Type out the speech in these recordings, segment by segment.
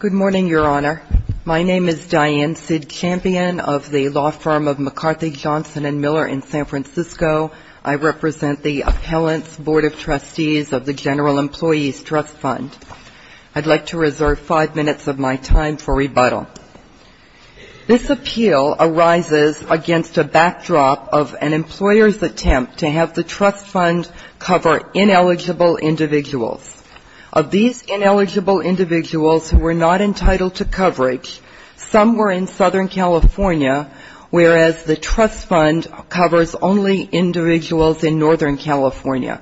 Good morning, Your Honor. My name is Diane Cidchampion of the law firm of McCarthy, Johnson & Miller in San Francisco. I represent the Appellants Board of Trustees of the General Employees Trust Fund. I'd like to reserve five minutes of my time for rebuttal. This appeal arises against a backdrop of an employer's attempt to have the trust fund cover ineligible individuals. Of these ineligible individuals who were not entitled to coverage, some were in Southern California, whereas the trust fund covers only individuals in Northern California.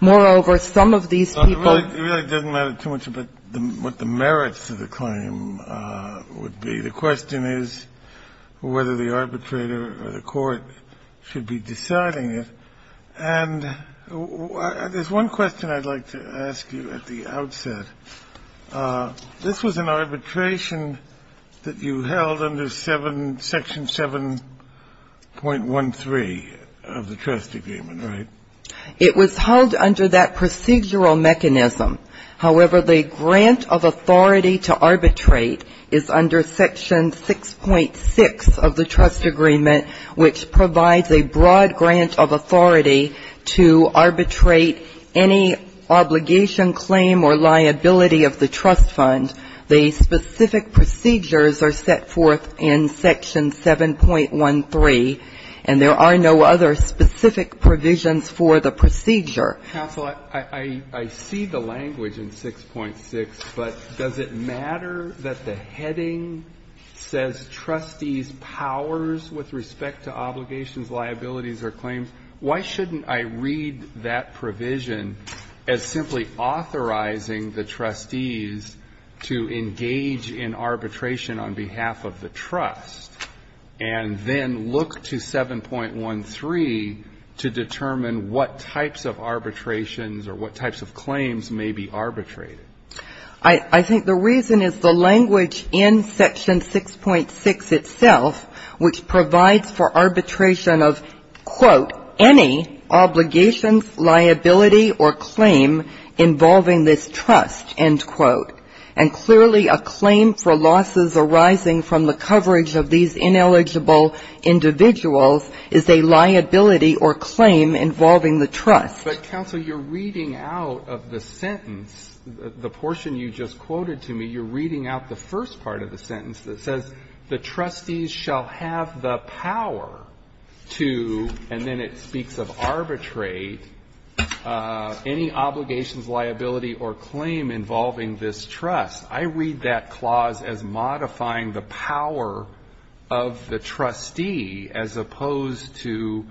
Moreover, some of these people... Kennedy, Jr. It really doesn't matter too much about what the merits of the claim would be. The question is whether the arbitrator or the court should be deciding it. And there's one question I'd like to ask you at the outset. The question is whether the arbitrator or the court should be deciding it. This was an arbitration that you held under Section 7.13 of the trust agreement, right? It was held under that procedural mechanism. However, the grant of authority to arbitrate is under Section 6.6 of the trust agreement, which provides a broad grant of authority to arbitrate any obligation claim or liability of the trust agreement under Section 7.6 of the trust fund. The specific procedures are set forth in Section 7.13, and there are no other specific provisions for the procedure. Counsel, I see the language in 6.6, but does it matter that the heading says trustees' powers with respect to obligations, liabilities or claims? Why shouldn't I read that provision as simply authorizing the trustees to authorize the trustees to engage in arbitration on behalf of the trust, and then look to 7.13 to determine what types of arbitrations or what types of claims may be arbitrated? I think the reason is the language in Section 6.6 itself, which provides for arbitration of, quote, any obligations, liability or claim involving this trust, end quote. And clearly, a claim for losses arising from the coverage of these ineligible individuals is a liability or claim involving the trust. But, counsel, you're reading out of the sentence, the portion you just quoted to me, you're reading out the first part of the sentence that says the trustees shall have the power to, and then it speaks of arbitrate, any obligations, liability or claim involving this trust. I read that clause as modifying the power of the trustee as opposed to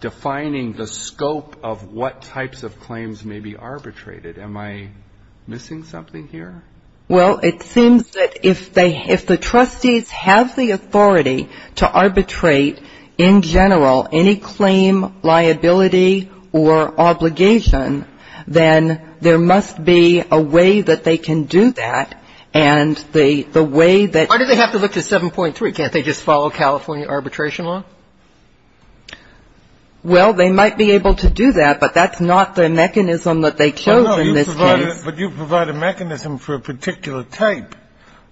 defining the scope of what types of claims may be arbitrated. Am I missing something here? Well, it seems that if the trustees have the authority to arbitrate, in general, any claim, liability or obligation, then there must be a way that they can do that. And the way that Why do they have to look to 7.3? Can't they just follow California arbitration law? Well, they might be able to do that, but that's not the mechanism that they chose in this case. But you provide a mechanism for a particular type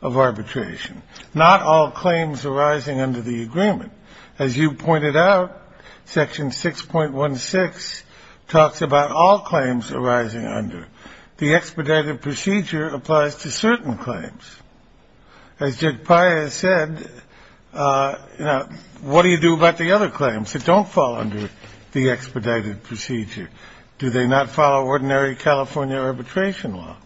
of arbitration, not all claims arising under the agreement. As you pointed out, Section 6.16 talks about all claims arising under. The expedited procedure applies to certain claims. As Jake Pius said, what do you do about the other claims that don't fall under the expedited procedure? Do they not follow ordinary California arbitration law?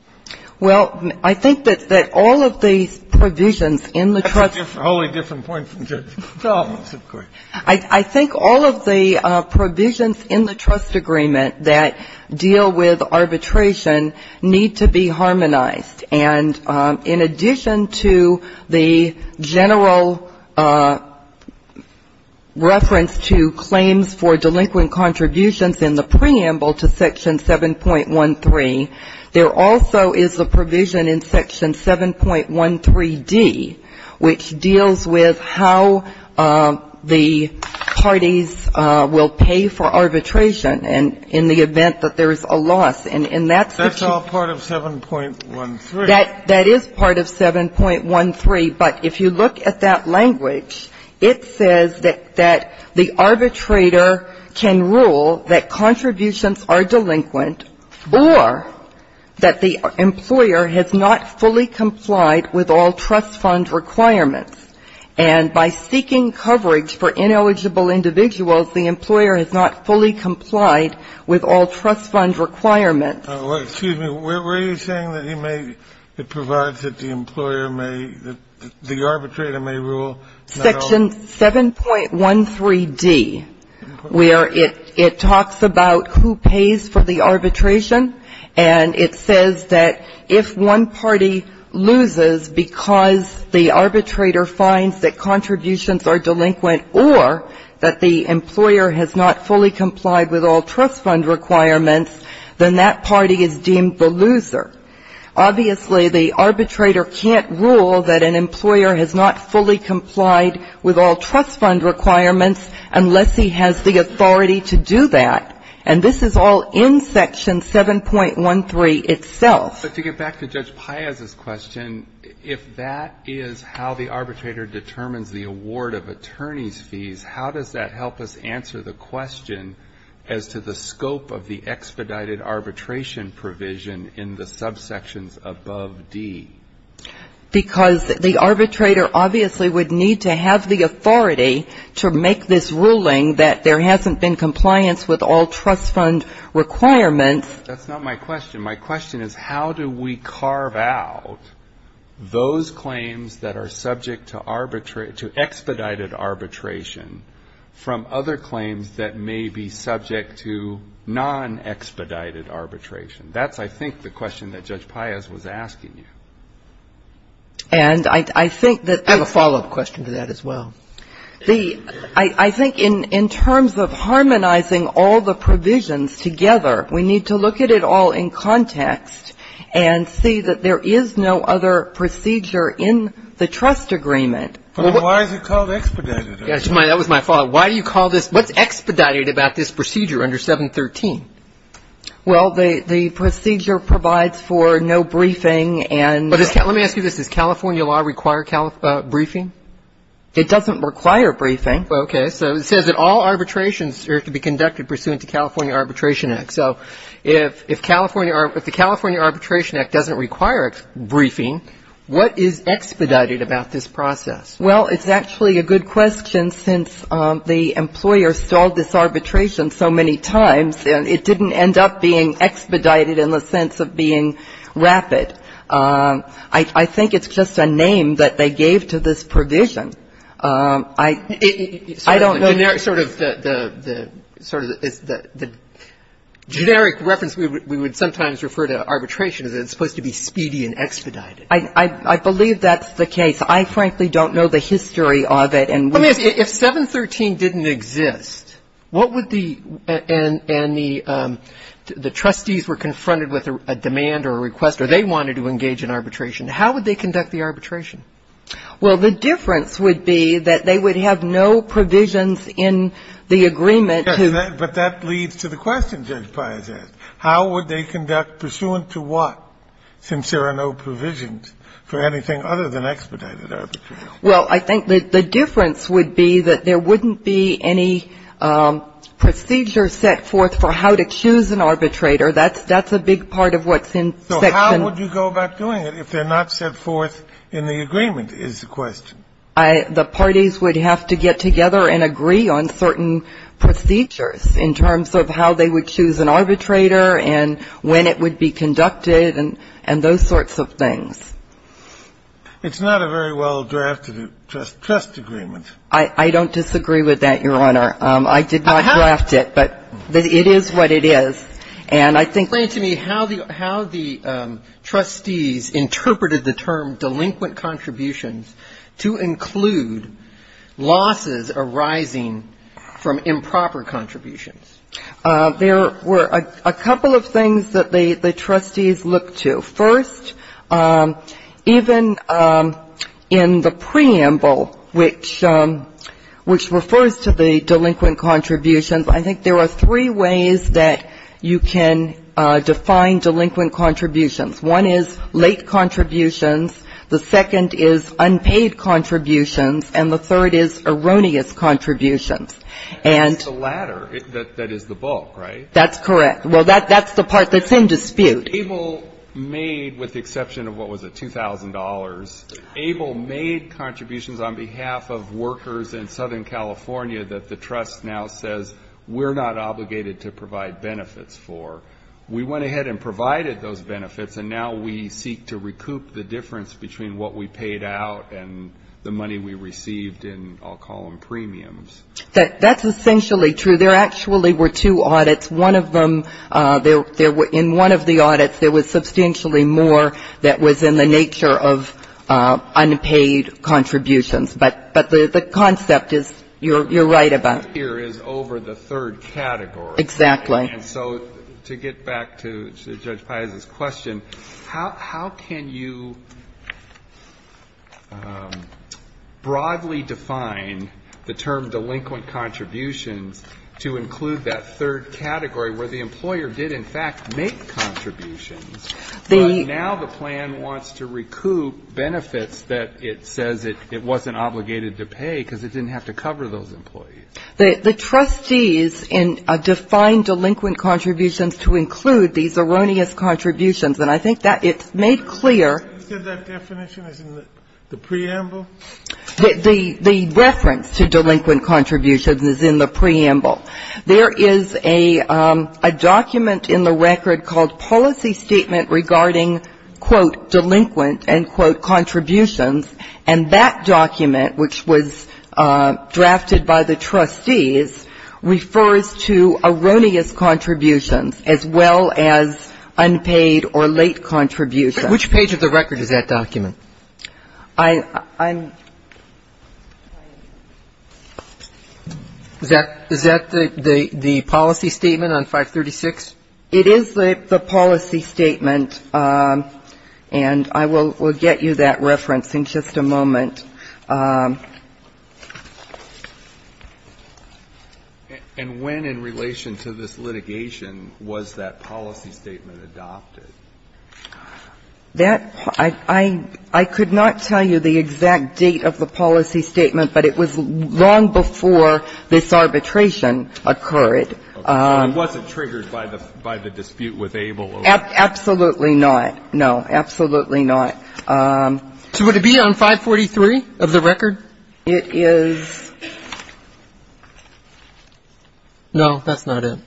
Well, I think that all of these provisions in the trust That's a wholly different point from Judge Sullivan's, of course. I think all of the provisions in the trust agreement that deal with arbitration need to be harmonized. And in addition to the general reference to claims for delinquent contributions in the preamble to Section 7.13, there also is a provision in Section 7.13d which deals with how the parties will pay for arbitration in the event that there is a loss. And that's the key. That's all part of 7.13. That is part of 7.13. But if you look at that language, it says that the arbitrator can rule that contributions are delinquent or that the employer has not fully complied with all trust fund requirements. And by seeking coverage for ineligible individuals, the employer has not fully complied with all trust fund requirements. Excuse me. Were you saying that he may provide that the employer may, that the arbitrator may rule not all? Section 7.13d, where it talks about who pays for the arbitration, and it says that if one party loses because the arbitrator finds that contributions are delinquent or that the employer has not fully complied with all trust fund requirements, then that party is deemed the loser. Obviously, the arbitrator can't rule that an employer has not fully complied with all trust fund requirements unless he has the authority to do that. And this is all in Section 7.13 itself. But to get back to Judge Paez's question, if that is how the arbitrator determines the award of attorney's fees, how does that help us answer the question as to the scope of the expedited arbitration provision in the subsections above D? Because the arbitrator obviously would need to have the authority to make this ruling that there hasn't been compliance with all trust fund requirements. That's not my question. My question is how do we carve out those claims that are subject to expedited arbitration from other claims that may be subject to nonexpedited arbitration? That's, I think, the question that Judge Paez was asking you. And I think that the ---- I have a follow-up question to that as well. I think in terms of harmonizing all the provisions together, we need to look at it all in context and see that there is no other procedure in the trust agreement. But why is it called expedited? That was my follow-up. Why do you call this ---- What's expedited about this procedure under 7.13? Well, the procedure provides for no briefing and ---- Let me ask you this. Does California law require briefing? It doesn't require briefing. Okay. So it says that all arbitrations are to be conducted pursuant to California Arbitration So if California ---- if the California Arbitration Act doesn't require briefing, what is expedited about this process? Well, it's actually a good question since the employer stalled this arbitration so many times, and it didn't end up being expedited in the sense of being rapid. I think it's just a name that they gave to this provision. I don't know ---- The generic reference we would sometimes refer to arbitration is that it's supposed to be speedy and expedited. I believe that's the case. I, frankly, don't know the history of it. Let me ask you, if 7.13 didn't exist, what would the ---- and the trustees were confronted with a demand or a request or they wanted to engage in arbitration, how would they conduct the arbitration? Well, the difference would be that they would have no provisions in the agreement to ---- Yes, but that leads to the question Judge Pius asked. How would they conduct pursuant to what, since there are no provisions for anything other than expedited arbitration? Well, I think that the difference would be that there wouldn't be any procedure set forth for how to choose an arbitrator. That's a big part of what's in Section ---- So how would you go about doing it if they're not set forth in the agreement, is the question. The parties would have to get together and agree on certain procedures in terms of how they would choose an arbitrator and when it would be conducted and those sorts of things. It's not a very well-drafted trust agreement. I don't disagree with that, Your Honor. I did not draft it, but it is what it is. And I think ---- Explain to me how the trustees interpreted the term delinquent contributions to include losses arising from improper contributions. There were a couple of things that the trustees looked to. First, even in the preamble, which refers to the delinquent contributions, I think there are three ways that you can define delinquent contributions. One is late contributions. The second is unpaid contributions. And the third is erroneous contributions. And ---- That's the latter. That is the bulk, right? That's correct. Well, that's the part that's in dispute. Abel made, with the exception of what was it, $2,000, Abel made contributions on behalf of workers in Southern California that the trust now says we're not obligated to provide benefits for. We went ahead and provided those benefits, and now we seek to recoup the difference between what we paid out and the money we received in all-column premiums. That's essentially true. There actually were two audits. In one of the audits, there was substantially more that was in the nature of unpaid contributions. But the concept is you're right about. Here is over the third category. Exactly. And so to get back to Judge Paez's question, how can you broadly define the term delinquent contributions to include that third category where the employer did in fact make contributions, but now the plan wants to recoup benefits that it says it wasn't obligated to pay because it didn't have to cover those employees? The trustees define delinquent contributions to include these erroneous contributions, and I think that it's made clear. You said that definition is in the preamble? The reference to delinquent contributions is in the preamble. There is a document in the record called policy statement regarding, quote, delinquent and, quote, contributions, and that document, which was drafted by the trustees, refers to erroneous contributions as well as unpaid or late contributions. Which page of the record is that document? Is that the policy statement on 536? It is the policy statement, and I will get you that reference in just a moment. And when in relation to this litigation was that policy statement adopted? I could not tell you the exact date of the policy statement, but it was long before this arbitration occurred. It wasn't triggered by the dispute with Abel? Absolutely not. No, absolutely not. So would it be on 543 of the record? It is. No, that's not it.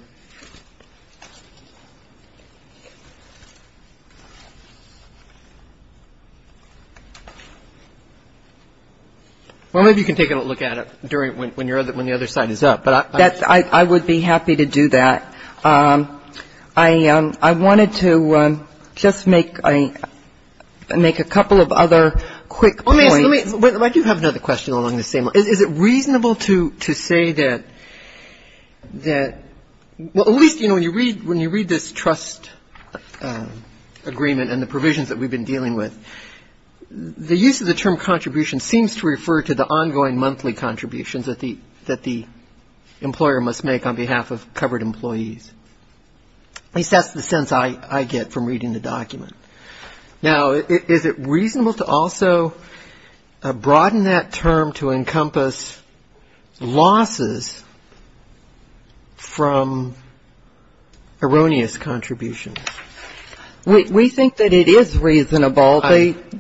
Well, maybe you can take a look at it when the other side is up. I would be happy to do that. I wanted to just make a couple of other quick points. I do have another question along the same lines. Is it reasonable to say that at least, you know, when you read this trust agreement and the provisions that we've been dealing with, the use of the term contribution seems to refer to the ongoing monthly contributions that the employer must make on behalf of covered employees? At least that's the sense I get from reading the document. Now, is it reasonable to also broaden that term to encompass losses from erroneous contributions? We think that it is reasonable.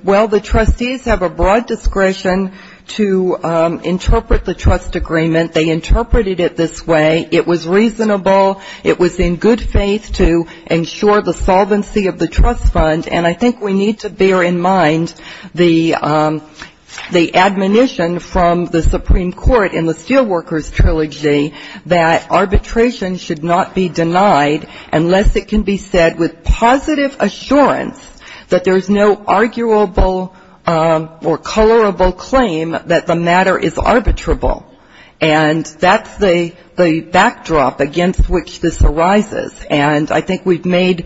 Well, the trustees have a broad discretion to interpret the trust agreement. They interpreted it this way. It was reasonable. It was in good faith to ensure the solvency of the trust fund. And I think we need to bear in mind the admonition from the Supreme Court in the Steelworkers Trilogy that arbitration should not be denied unless it can be said with positive assurance that there's no arguable or colorable claim that the matter is arbitrable. And that's the backdrop against which this arises. And I think we've made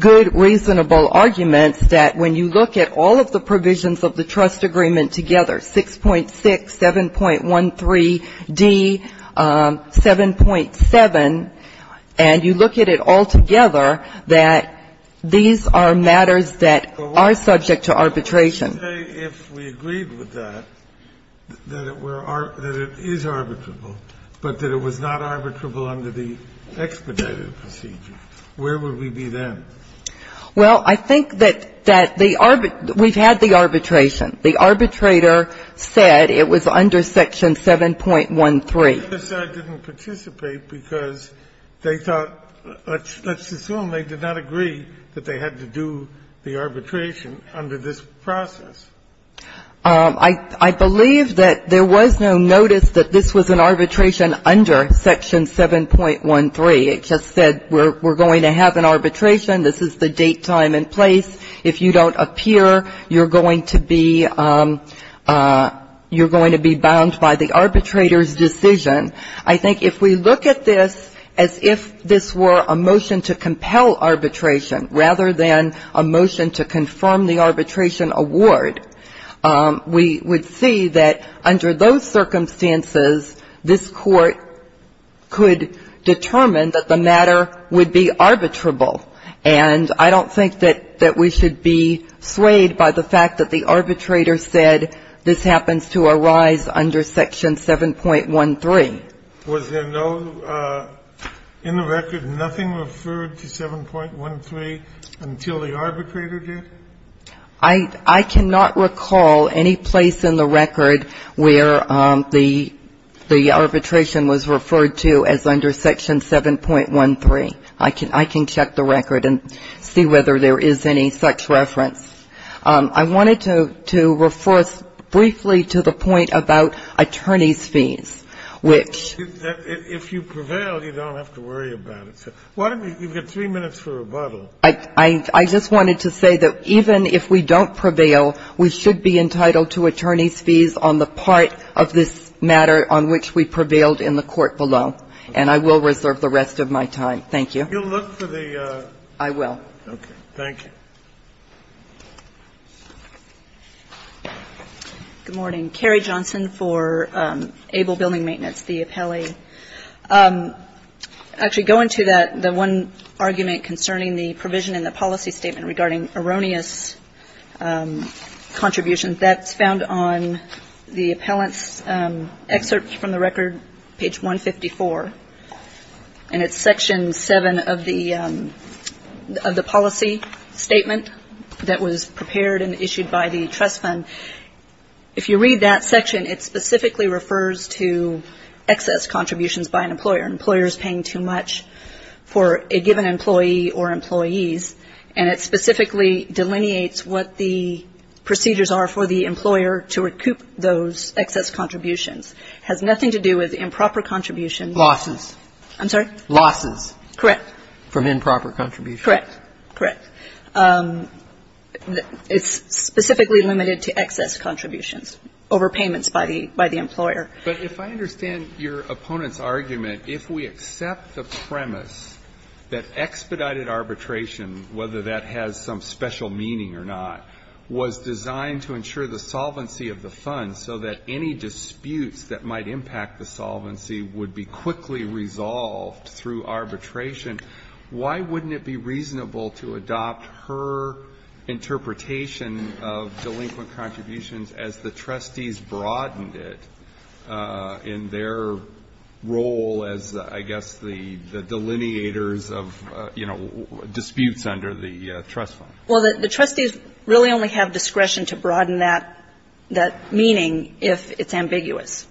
good, reasonable arguments that when you look at all of the provisions of the trust agreement together, 6.6, 7.13d, 7.7, and you look at it all together, that these are matters that are subject to arbitration. If we agreed with that, that it is arbitrable, but that it was not arbitrable under the expedited procedure, where would we be then? Well, I think that the arbitrator – we've had the arbitration. The arbitrator said it was under section 7.13. They just said it didn't participate because they thought – let's assume they did not agree that they had to do the arbitration under this process. I believe that there was no notice that this was an arbitration under section 7.13. It just said we're going to have an arbitration. This is the date, time, and place. If you don't appear, you're going to be bound by the arbitrator's decision. I think if we look at this as if this were a motion to compel arbitration rather than a motion to confirm the arbitration award, we would see that under those circumstances, this Court could determine that the matter would be arbitrable. And I don't think that we should be swayed by the fact that the arbitrator said this happens to arise under section 7.13. Was there no – in the record, nothing referred to 7.13 until the arbitrator did? I cannot recall any place in the record where the arbitration was referred to as under section 7.13. I can check the record and see whether there is any such reference. I wanted to refer briefly to the point about attorney's fees, which – If you prevail, you don't have to worry about it. You've got three minutes for rebuttal. I just wanted to say that even if we don't prevail, we should be entitled to attorney's fees on the part of this matter on which we prevailed in the court below. And I will reserve the rest of my time. Thank you. You'll look for the – I will. Okay. Thank you. Good morning. Carrie Johnson for Able Building Maintenance, the appellee. Actually, going to that, the one argument concerning the provision in the policy statement regarding erroneous contributions, that's found on the appellant's excerpt from the record, page 154. And it's section 7 of the policy statement that was prepared and issued by the trust fund. If you read that section, it specifically refers to excess contributions by an employer. An employer is paying too much for a given employee or employees. And it specifically delineates what the procedures are for the employer to recoup those excess contributions. It has nothing to do with improper contributions. Losses. I'm sorry? Losses. Correct. From improper contributions. Correct. Correct. It's specifically limited to excess contributions. Overpayments by the employer. But if I understand your opponent's argument, if we accept the premise that expedited arbitration, whether that has some special meaning or not, was designed to ensure the solvency of the funds so that any disputes that might impact the solvency would be quickly resolved through arbitration, why wouldn't it be reasonable to adopt her interpretation of delinquent contributions as the trustees broadened it in their role as, I guess, the delineators of, you know, disputes under the trust fund? Well, the trustees really only have discretion to broaden that meaning if it's ambiguous.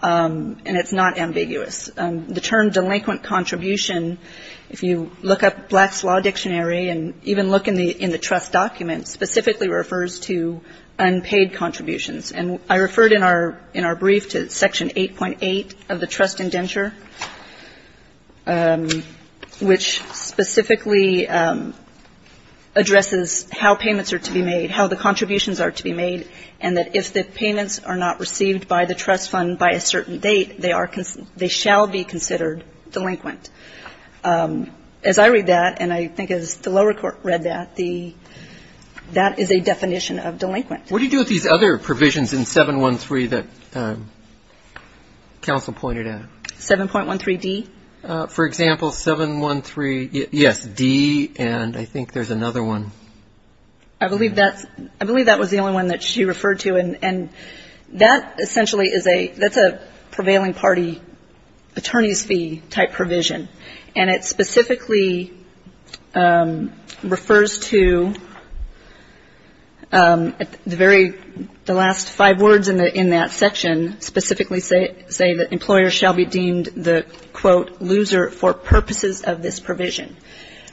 And it's not ambiguous. The term delinquent contribution, if you look up Black's Law Dictionary and even look in the trust documents, specifically refers to unpaid contributions. And I referred in our brief to Section 8.8 of the trust indenture, which specifically addresses how payments are to be made, how the contributions are to be made, and that if the payments are not received by the trust fund by a certain date, they are they shall be considered delinquent. As I read that, and I think as the lower court read that, the that is a definition of delinquent. What do you do with these other provisions in 713 that counsel pointed out? 7.13d? For example, 713, yes, d, and I think there's another one. I believe that was the only one that she referred to, and that essentially is a prevailing party attorney's fee type provision. And it specifically refers to the very last five words in that section, specifically saying that employers shall be deemed the, quote, loser for purposes of this provision.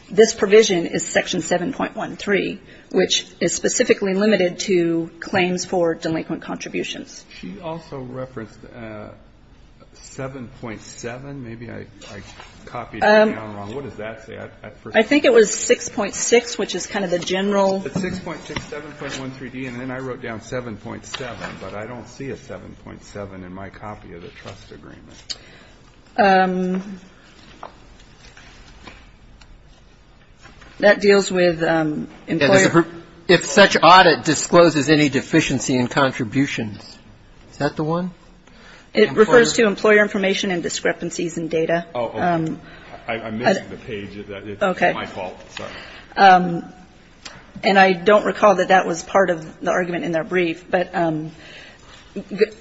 This provision is Section 7.13, which is specifically limited to claims for delinquent contributions. She also referenced 7.7. Maybe I copied it down wrong. What does that say? I think it was 6.6, which is kind of the general. It's 6.6, 7.13d, and then I wrote down 7.7, but I don't see a 7.7 in my copy of the trust agreement. That deals with employer. If such audit discloses any deficiency in contributions. Is that the one? It refers to employer information and discrepancies in data. I missed the page. It's my fault. Sorry. And I don't recall that that was part of the argument in their brief. But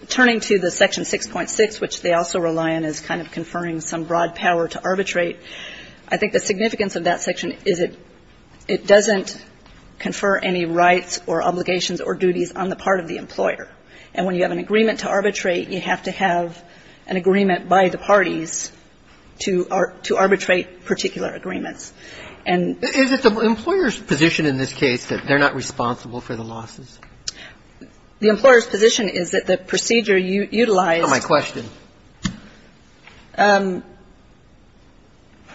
turning to the Section 6.6, which they also rely on as kind of conferring some broad power to arbitrate, I think the significance of that section is it doesn't confer any rights or obligations or duties on the part of the employer. And when you have an agreement to arbitrate, you have to have an agreement by the parties to arbitrate particular agreements. Is it the employer's position in this case that they're not responsible for the losses? The employer's position is that the procedure utilized. That's not my question.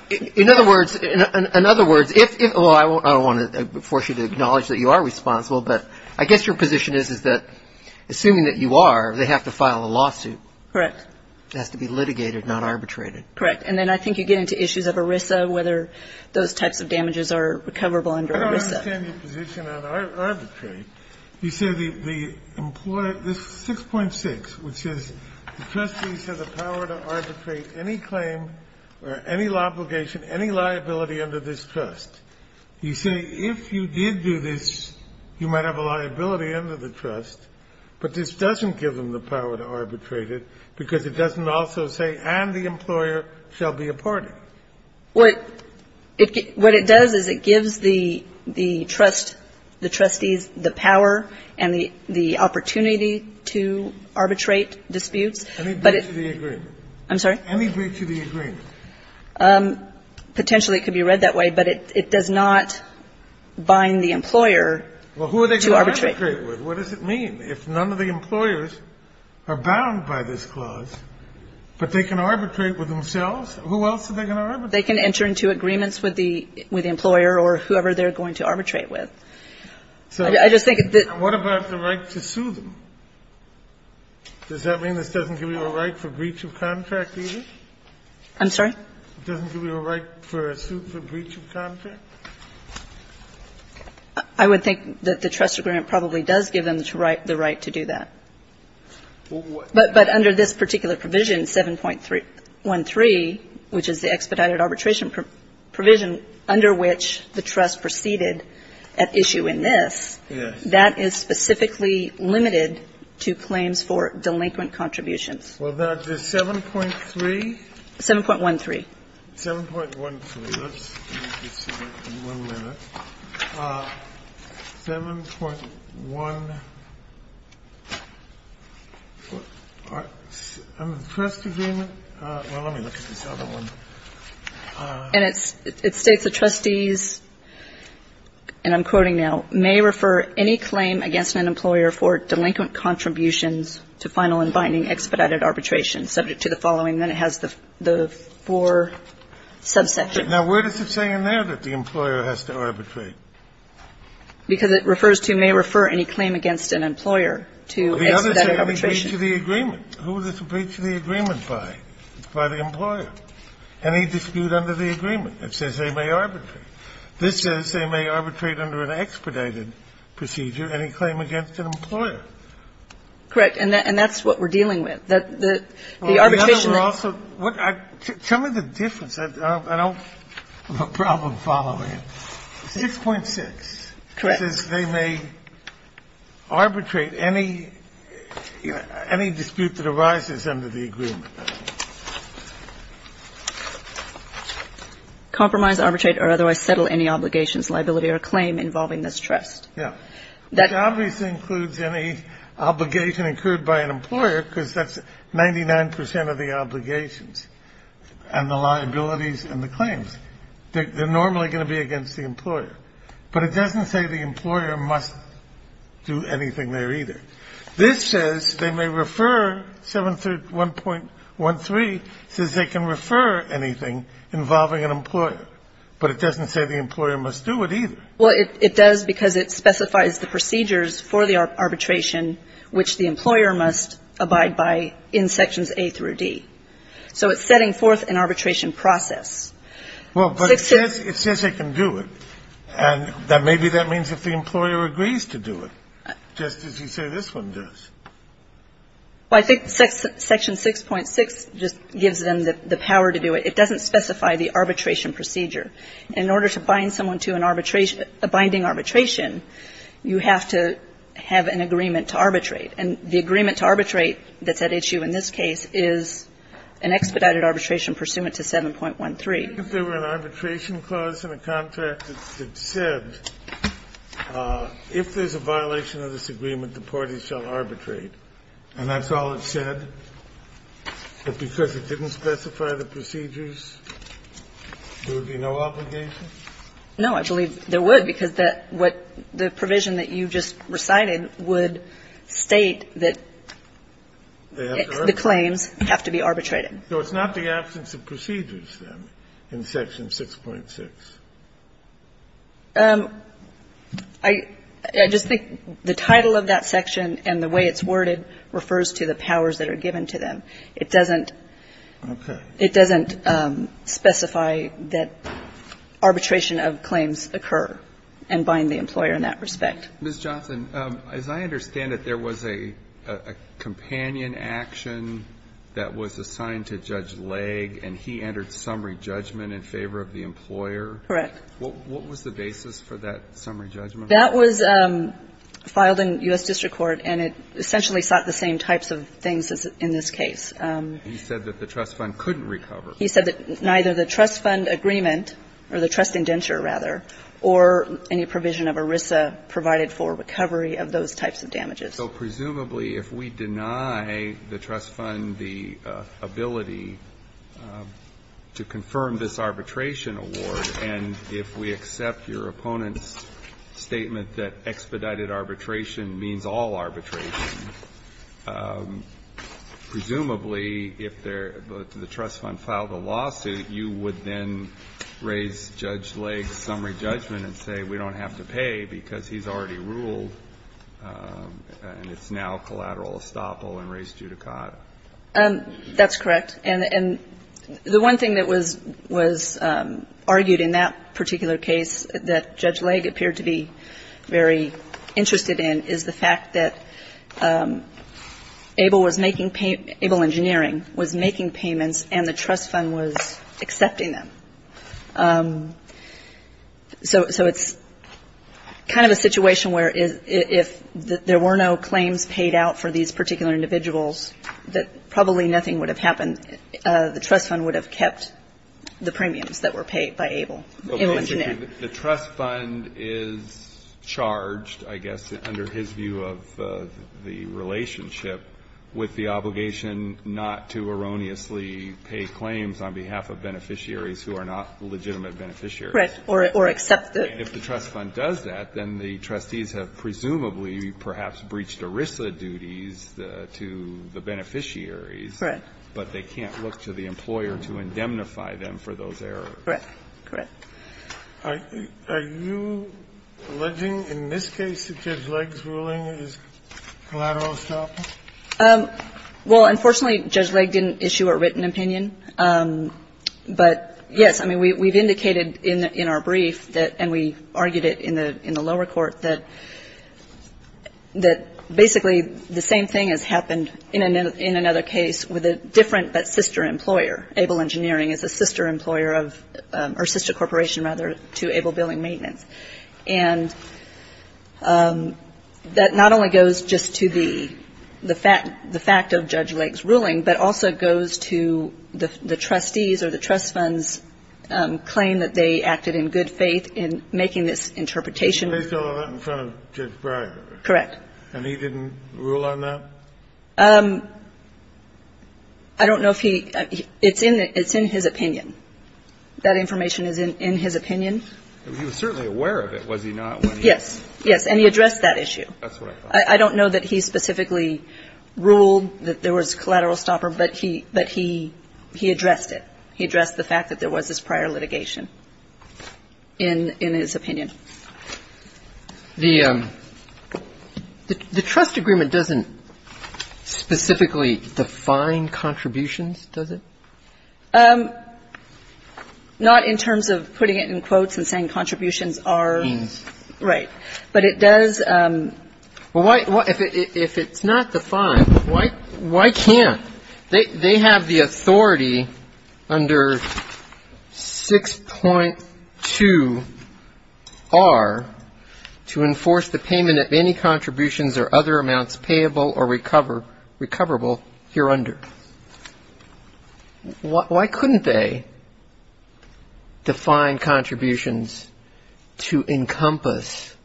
In other words, in other words, I don't want to force you to acknowledge that you are responsible, but I guess your position is that assuming that you are, they have to file a lawsuit. Correct. It has to be litigated, not arbitrated. Correct. And then I think you get into issues of ERISA, whether those types of damages are recoverable under ERISA. I don't understand your position on arbitrate. You say the employer, this 6.6, which says the trustees have the power to arbitrate any claim or any obligation, any liability under this trust. You say if you did do this, you might have a liability under the trust, but this doesn't give them the power to arbitrate it because it doesn't also say and the employer shall be a party. What it does is it gives the trust, the trustees, the power and the opportunity to arbitrate disputes. Any breach of the agreement. I'm sorry? Any breach of the agreement. Potentially it could be read that way, but it does not bind the employer to arbitrate. Well, who are they going to arbitrate with? What does it mean? If none of the employers are bound by this clause, but they can arbitrate with themselves, who else are they going to arbitrate with? They can enter into agreements with the employer or whoever they're going to arbitrate with. So I just think that the What about the right to sue them? Does that mean this doesn't give you a right for breach of contract either? I'm sorry? It doesn't give you a right for a suit for breach of contract? I would think that the trust agreement probably does give them the right to do that. But under this particular provision, 7.13, which is the expedited arbitration provision under which the trust proceeded at issue in this, that is specifically limited to claims for delinquent contributions. Well, that's the 7.3? 7.13. 7.13. Let me just see that in one minute. 7.1. The trust agreement. Well, let me look at this other one. And it states the trustees, and I'm quoting now, may refer any claim against an employer for delinquent contributions to final and binding expedited arbitration subject to the following. Then it has the four subsections. Now, where does it say in there that the employer has to arbitrate? Because it refers to may refer any claim against an employer to expedited arbitration. The other says may breach of the agreement. Who is it to breach of the agreement by? By the employer. Any dispute under the agreement. It says they may arbitrate. This says they may arbitrate under an expedited procedure any claim against an employer. Correct. And that's what we're dealing with. The arbitration that also What? Tell me the difference. I don't have a problem following it. 6.6. Correct. It says they may arbitrate any dispute that arises under the agreement. Compromise, arbitrate or otherwise settle any obligations, liability or claim involving this trust. Yeah. That obviously includes any obligation incurred by an employer, because that's 99% of the obligations and the liabilities and the claims. They're normally going to be against the employer. But it doesn't say the employer must do anything there either. This says they may refer 731.13 says they can refer anything involving an employer. But it doesn't say the employer must do it either. Well, it does because it specifies the procedures for the arbitration which the employer must abide by in sections A through D. So it's setting forth an arbitration process. Well, but it says it can do it. And maybe that means if the employer agrees to do it, just as you say this one does. Well, I think section 6.6 just gives them the power to do it. It doesn't specify the arbitration procedure. In order to bind someone to an arbitration, a binding arbitration, you have to have an agreement to arbitrate. And the agreement to arbitrate that's at issue in this case is an expedited arbitration pursuant to 7.13. If there were an arbitration clause in a contract that said, if there's a violation of this agreement, the parties shall arbitrate, and that's all it said? If because it didn't specify the procedures, there would be no obligation? No, I believe there would because that what the provision that you just recited would state that the claims have to be arbitrated. So it's not the absence of procedures, then, in section 6.6? I just think the title of that section and the way it's worded refers to the powers that are given to them. It doesn't specify that arbitration of claims occur and bind the employer in that respect. Ms. Johnson, as I understand it, there was a companion action that was assigned to Judge Legg, and he entered summary judgment in favor of the employer? Correct. What was the basis for that summary judgment? That was filed in U.S. District Court, and it essentially sought the same types of things in this case. He said that the trust fund couldn't recover. He said that neither the trust fund agreement, or the trust indenture, rather, or any provision of ERISA provided for recovery of those types of damages. So presumably, if we deny the trust fund the ability to confirm this arbitration award, and if we accept your opponent's statement that expedited arbitration means all arbitration, presumably, if the trust fund filed a lawsuit, you would then raise Judge Legg's summary judgment and say, we don't have to pay because he's already ruled, and it's now collateral estoppel and res judicata. That's correct. And the one thing that was argued in that particular case that Judge Legg appeared to be very interested in is the fact that ABLE was making pay – ABLE Engineering was making payments, and the trust fund was accepting them. So it's kind of a situation where if there were no claims paid out for these particular individuals, that probably nothing would have happened. The trust fund would have kept the premiums that were paid by ABLE, ABLE Engineering. The trust fund is charged, I guess, under his view of the relationship with the obligation not to erroneously pay claims on behalf of beneficiaries who are not legitimate beneficiaries. Correct. Or accept it. And if the trust fund does that, then the trustees have presumably perhaps breached ERISA duties to the beneficiaries. Correct. But they can't look to the employer to indemnify them for those errors. Correct. Are you alleging in this case that Judge Legg's ruling is collateral establishment? Well, unfortunately, Judge Legg didn't issue a written opinion. But, yes, I mean, we've indicated in our brief that, and we argued it in the lower court, that basically the same thing has happened in another case with a different but sister employer. ABLE Engineering is a sister employer of or sister corporation, rather, to ABLE Billing Maintenance. And that not only goes just to the fact of Judge Legg's ruling, but also goes to the trustees or the trust fund's claim that they acted in good faith in making this interpretation. But they saw that in front of Judge Breyer. Correct. And he didn't rule on that? I don't know if he – it's in his opinion. That information is in his opinion. He was certainly aware of it, was he not, when he was? Yes. Yes. And he addressed that issue. That's what I thought. I don't know that he specifically ruled that there was collateral stopper. But he addressed it. He addressed the fact that there was this prior litigation in his opinion. The trust agreement doesn't specifically define contributions, does it? Not in terms of putting it in quotes and saying contributions are. Means. Right. But it does. Well, if it's not defined, why can't? They have the authority under 6.2R to enforce the payment of any contributions or other amounts payable or recoverable here under. Why couldn't they define contributions to encompass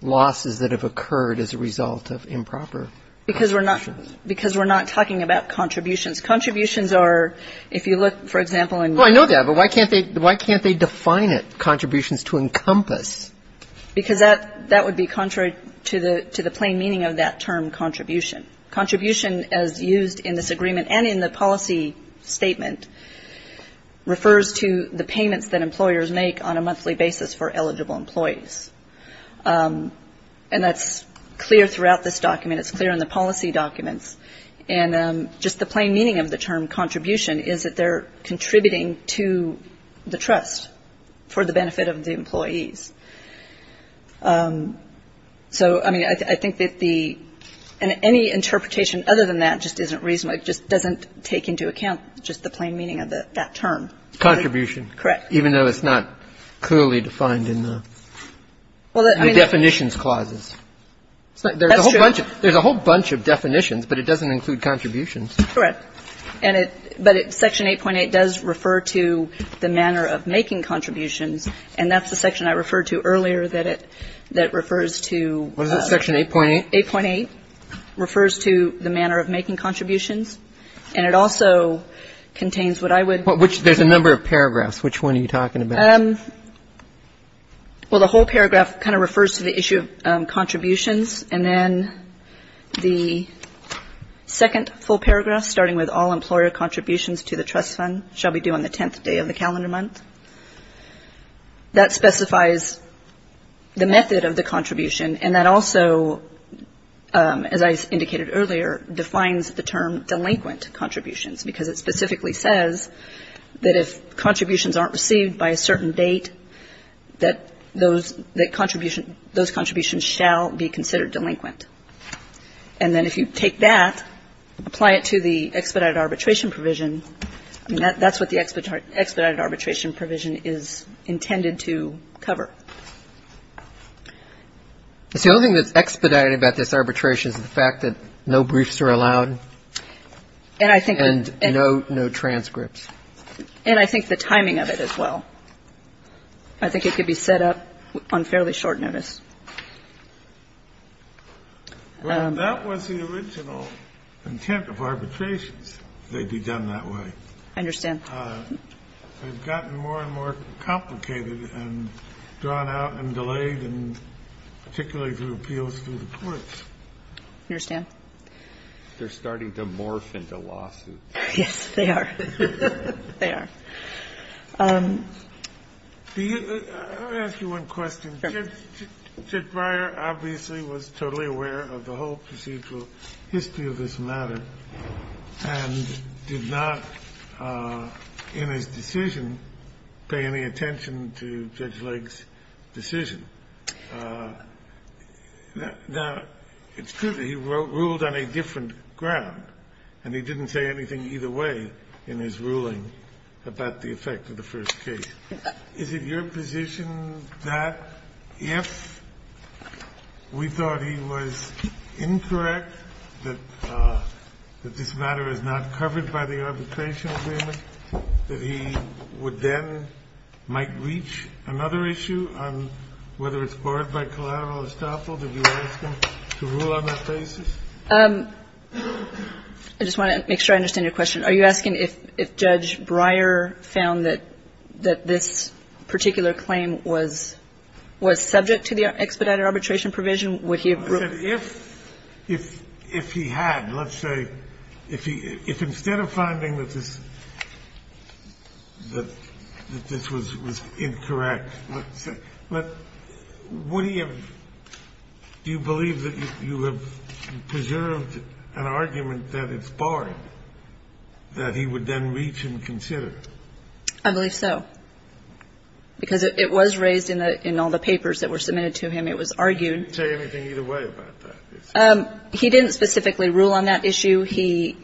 losses that have occurred as a result of improper contributions? Because we're not talking about contributions. Contributions are, if you look, for example. Oh, I know that. But why can't they define it, contributions to encompass? Because that would be contrary to the plain meaning of that term, contribution. Contribution, as used in this agreement and in the policy statement, refers to the payments that employers make on a monthly basis for eligible employees. And that's clear throughout this document. It's clear in the policy documents. And just the plain meaning of the term contribution is that they're contributing to the trust for the benefit of the employees. So, I mean, I think that the any interpretation other than that just isn't reasonable. It just doesn't take into account just the plain meaning of that term. Contribution. Correct. Even though it's not clearly defined in the definitions clauses. That's true. There's a whole bunch of definitions, but it doesn't include contributions. Correct. But Section 8.8 does refer to the manner of making contributions. And that's the section I referred to earlier that refers to. What is it, Section 8.8? 8.8 refers to the manner of making contributions. And it also contains what I would. There's a number of paragraphs. Which one are you talking about? Well, the whole paragraph kind of refers to the issue of contributions. And then the second full paragraph, starting with all employer contributions to the trust fund, shall be due on the 10th day of the calendar month. That specifies the method of the contribution. And that also, as I indicated earlier, defines the term delinquent contributions, because it specifically says that if contributions aren't received by a certain date, that those contributions shall be considered delinquent. And then if you take that, apply it to the expedited arbitration provision, that's what the expedited arbitration provision is intended to cover. The only thing that's expedited about this arbitration is the fact that no briefs are allowed. And I think there's no transcripts. And I think the timing of it as well. I think it could be set up on fairly short notice. Well, that was the original intent of arbitrations. They'd be done that way. I understand. They've gotten more and more complicated and drawn out and delayed, and particularly through appeals to the courts. I understand. They're starting to morph into lawsuits. Yes, they are. They are. Let me ask you one question. Judge Breyer obviously was totally aware of the whole procedural history of this matter and did not, in his decision, pay any attention to Judge Lake's decision. Now, it's true that he ruled on a different ground, and he didn't say anything either way in his ruling about the effect of the first case. Is it your position that if we thought he was incorrect, that this matter is not covered by the arbitration agreement, that he would then might reach another issue on which whether it's barred by collateral estoppel? Did you ask him to rule on that basis? I just want to make sure I understand your question. Are you asking if Judge Breyer found that this particular claim was subject to the expedited arbitration provision? Would he have ruled? I said if he had, let's say, if instead of finding that this was incorrect, would he have? Do you believe that you have preserved an argument that it's barred, that he would then reach and consider? I believe so, because it was raised in all the papers that were submitted to him. It was argued. He didn't say anything either way about that. He didn't specifically rule on that issue. He,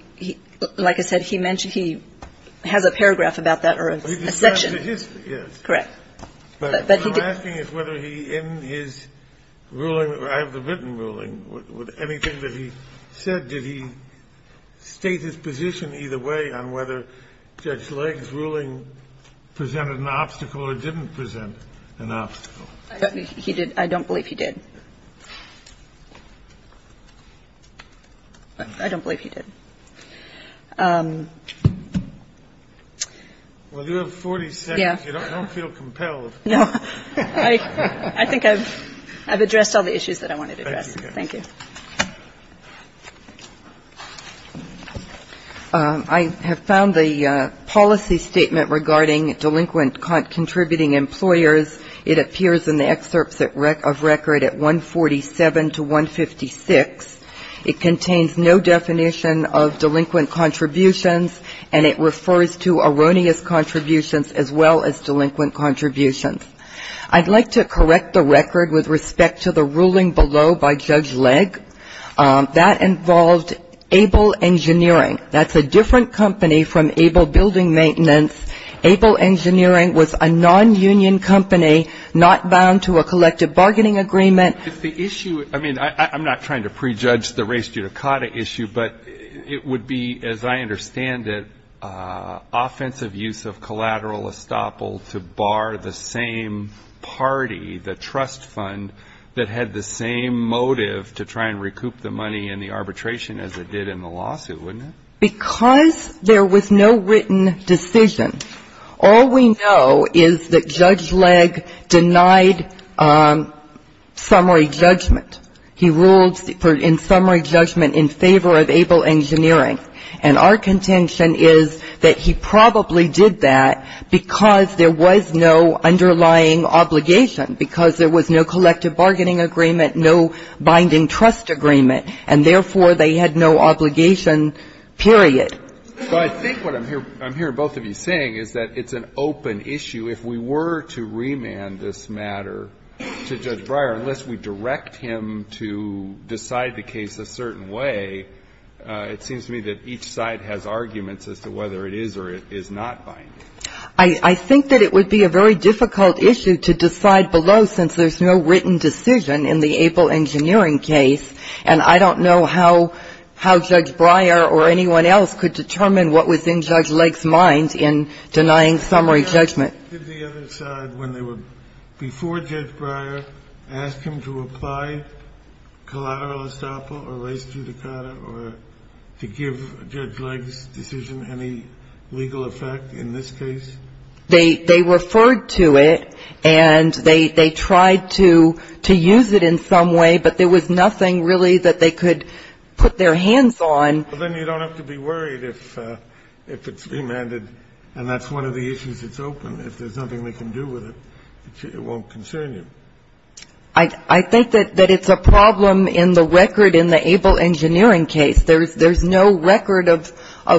like I said, he mentioned he has a paragraph about that or a section. Correct. But what I'm asking is whether he, in his ruling, I have the written ruling, would anything that he said, did he state his position either way on whether Judge Legg's ruling presented an obstacle or didn't present an obstacle? He did. I don't believe he did. I don't believe he did. Well, you have 40 seconds. You don't feel compelled. No. I think I've addressed all the issues that I wanted to address. Thank you. I have found the policy statement regarding delinquent contributing employers. It appears in the excerpts of record at 147 to 156. It contains no definition of delinquent contributions, and it refers to erroneous contributions as well as delinquent contributions. I'd like to correct the record with respect to the ruling below by Judge Legg. That involved Able Engineering. That's a different company from Able Building Maintenance. Able Engineering was a nonunion company not bound to a collective bargaining agreement. If the issue, I mean, I'm not trying to prejudge the race judicata issue, but it would be, as I understand it, offensive use of collateral estoppel to bar the same party, the trust fund, that had the same motive to try and recoup the money in the arbitration as it did in the lawsuit, wouldn't it? Because there was no written decision. All we know is that Judge Legg denied summary judgment. He ruled in summary judgment in favor of Able Engineering. And our contention is that he probably did that because there was no underlying obligation, because there was no collective bargaining agreement, no binding trust agreement, and therefore they had no obligation, period. So I think what I'm hearing both of you saying is that it's an open issue. If we were to remand this matter to Judge Breyer, unless we direct him to decide the case a certain way, it seems to me that each side has arguments as to whether it is or is not binding. I think that it would be a very difficult issue to decide below since there's no written decision in the Able Engineering case, and I don't know how Judge Breyer or anyone else could determine what was in Judge Legg's mind in denying summary judgment. Did the other side, when they were before Judge Breyer, ask him to apply collateral estoppel or res judicata or to give Judge Legg's decision any legal effect in this case? They referred to it, and they tried to use it in some way, but there was nothing really that they could put their hands on. Well, then you don't have to be worried if it's remanded, and that's one of the issues that's open. If there's nothing they can do with it, it won't concern you. I think that it's a problem in the record in the Able Engineering case. There's no record of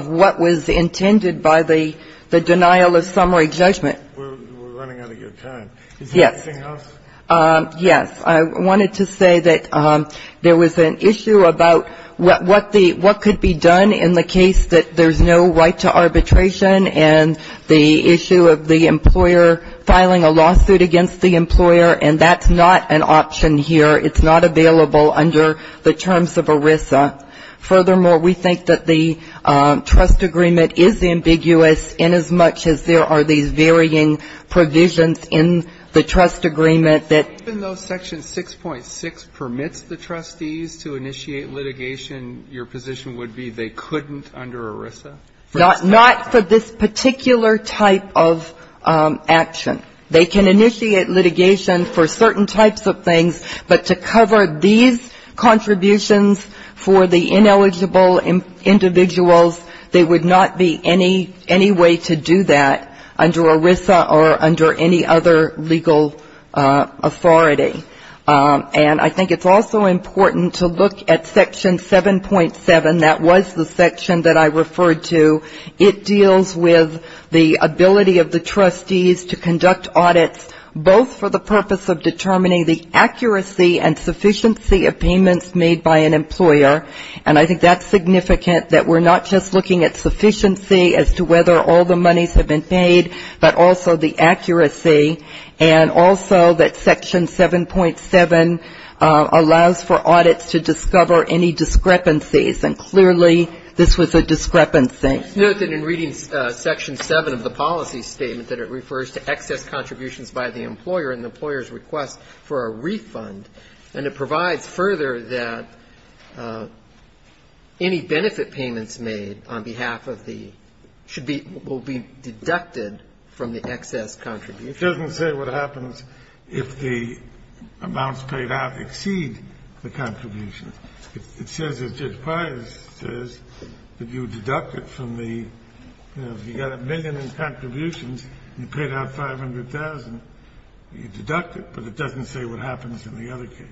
what was intended by the denial of summary judgment. We're running out of your time. Yes. Is there anything else? Yes. I wanted to say that there was an issue about what could be done in the case that there's no right to arbitration, and the issue of the employer filing a lawsuit against the employer, and that's not an option here. It's not available under the terms of ERISA. Furthermore, we think that the trust agreement is ambiguous inasmuch as there are these sections 6.6 permits the trustees to initiate litigation. Your position would be they couldn't under ERISA? Not for this particular type of action. They can initiate litigation for certain types of things, but to cover these contributions for the ineligible individuals, there would not be any way to do that under ERISA or under any other legal authority. And I think it's also important to look at Section 7.7. That was the section that I referred to. It deals with the ability of the trustees to conduct audits both for the purpose of determining the accuracy and sufficiency of payments made by an employer, and I think that's significant, that we're not just looking at sufficiency as to whether all the monies have been paid, but also the accuracy, and also that Section 7.7 allows for audits to discover any discrepancies, and clearly this was a discrepancy. Note that in reading Section 7 of the policy statement that it refers to excess contributions by the employer and the employer's request for a refund, and it provides further that any benefit payments made on behalf of the should be or will be deducted from the excess contributions. It doesn't say what happens if the amounts paid out exceed the contributions. It says, as Judge Pius says, that you deduct it from the, you know, if you got a million in contributions and you paid out 500,000, you deduct it, but it doesn't say what happens in the other case.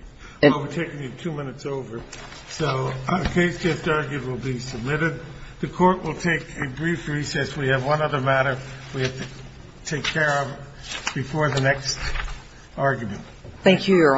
I'm overtaking you two minutes over. So the case just argued will be submitted. The Court will take a brief recess. We have one other matter we have to take care of before the next argument. Thank you, Your Honors.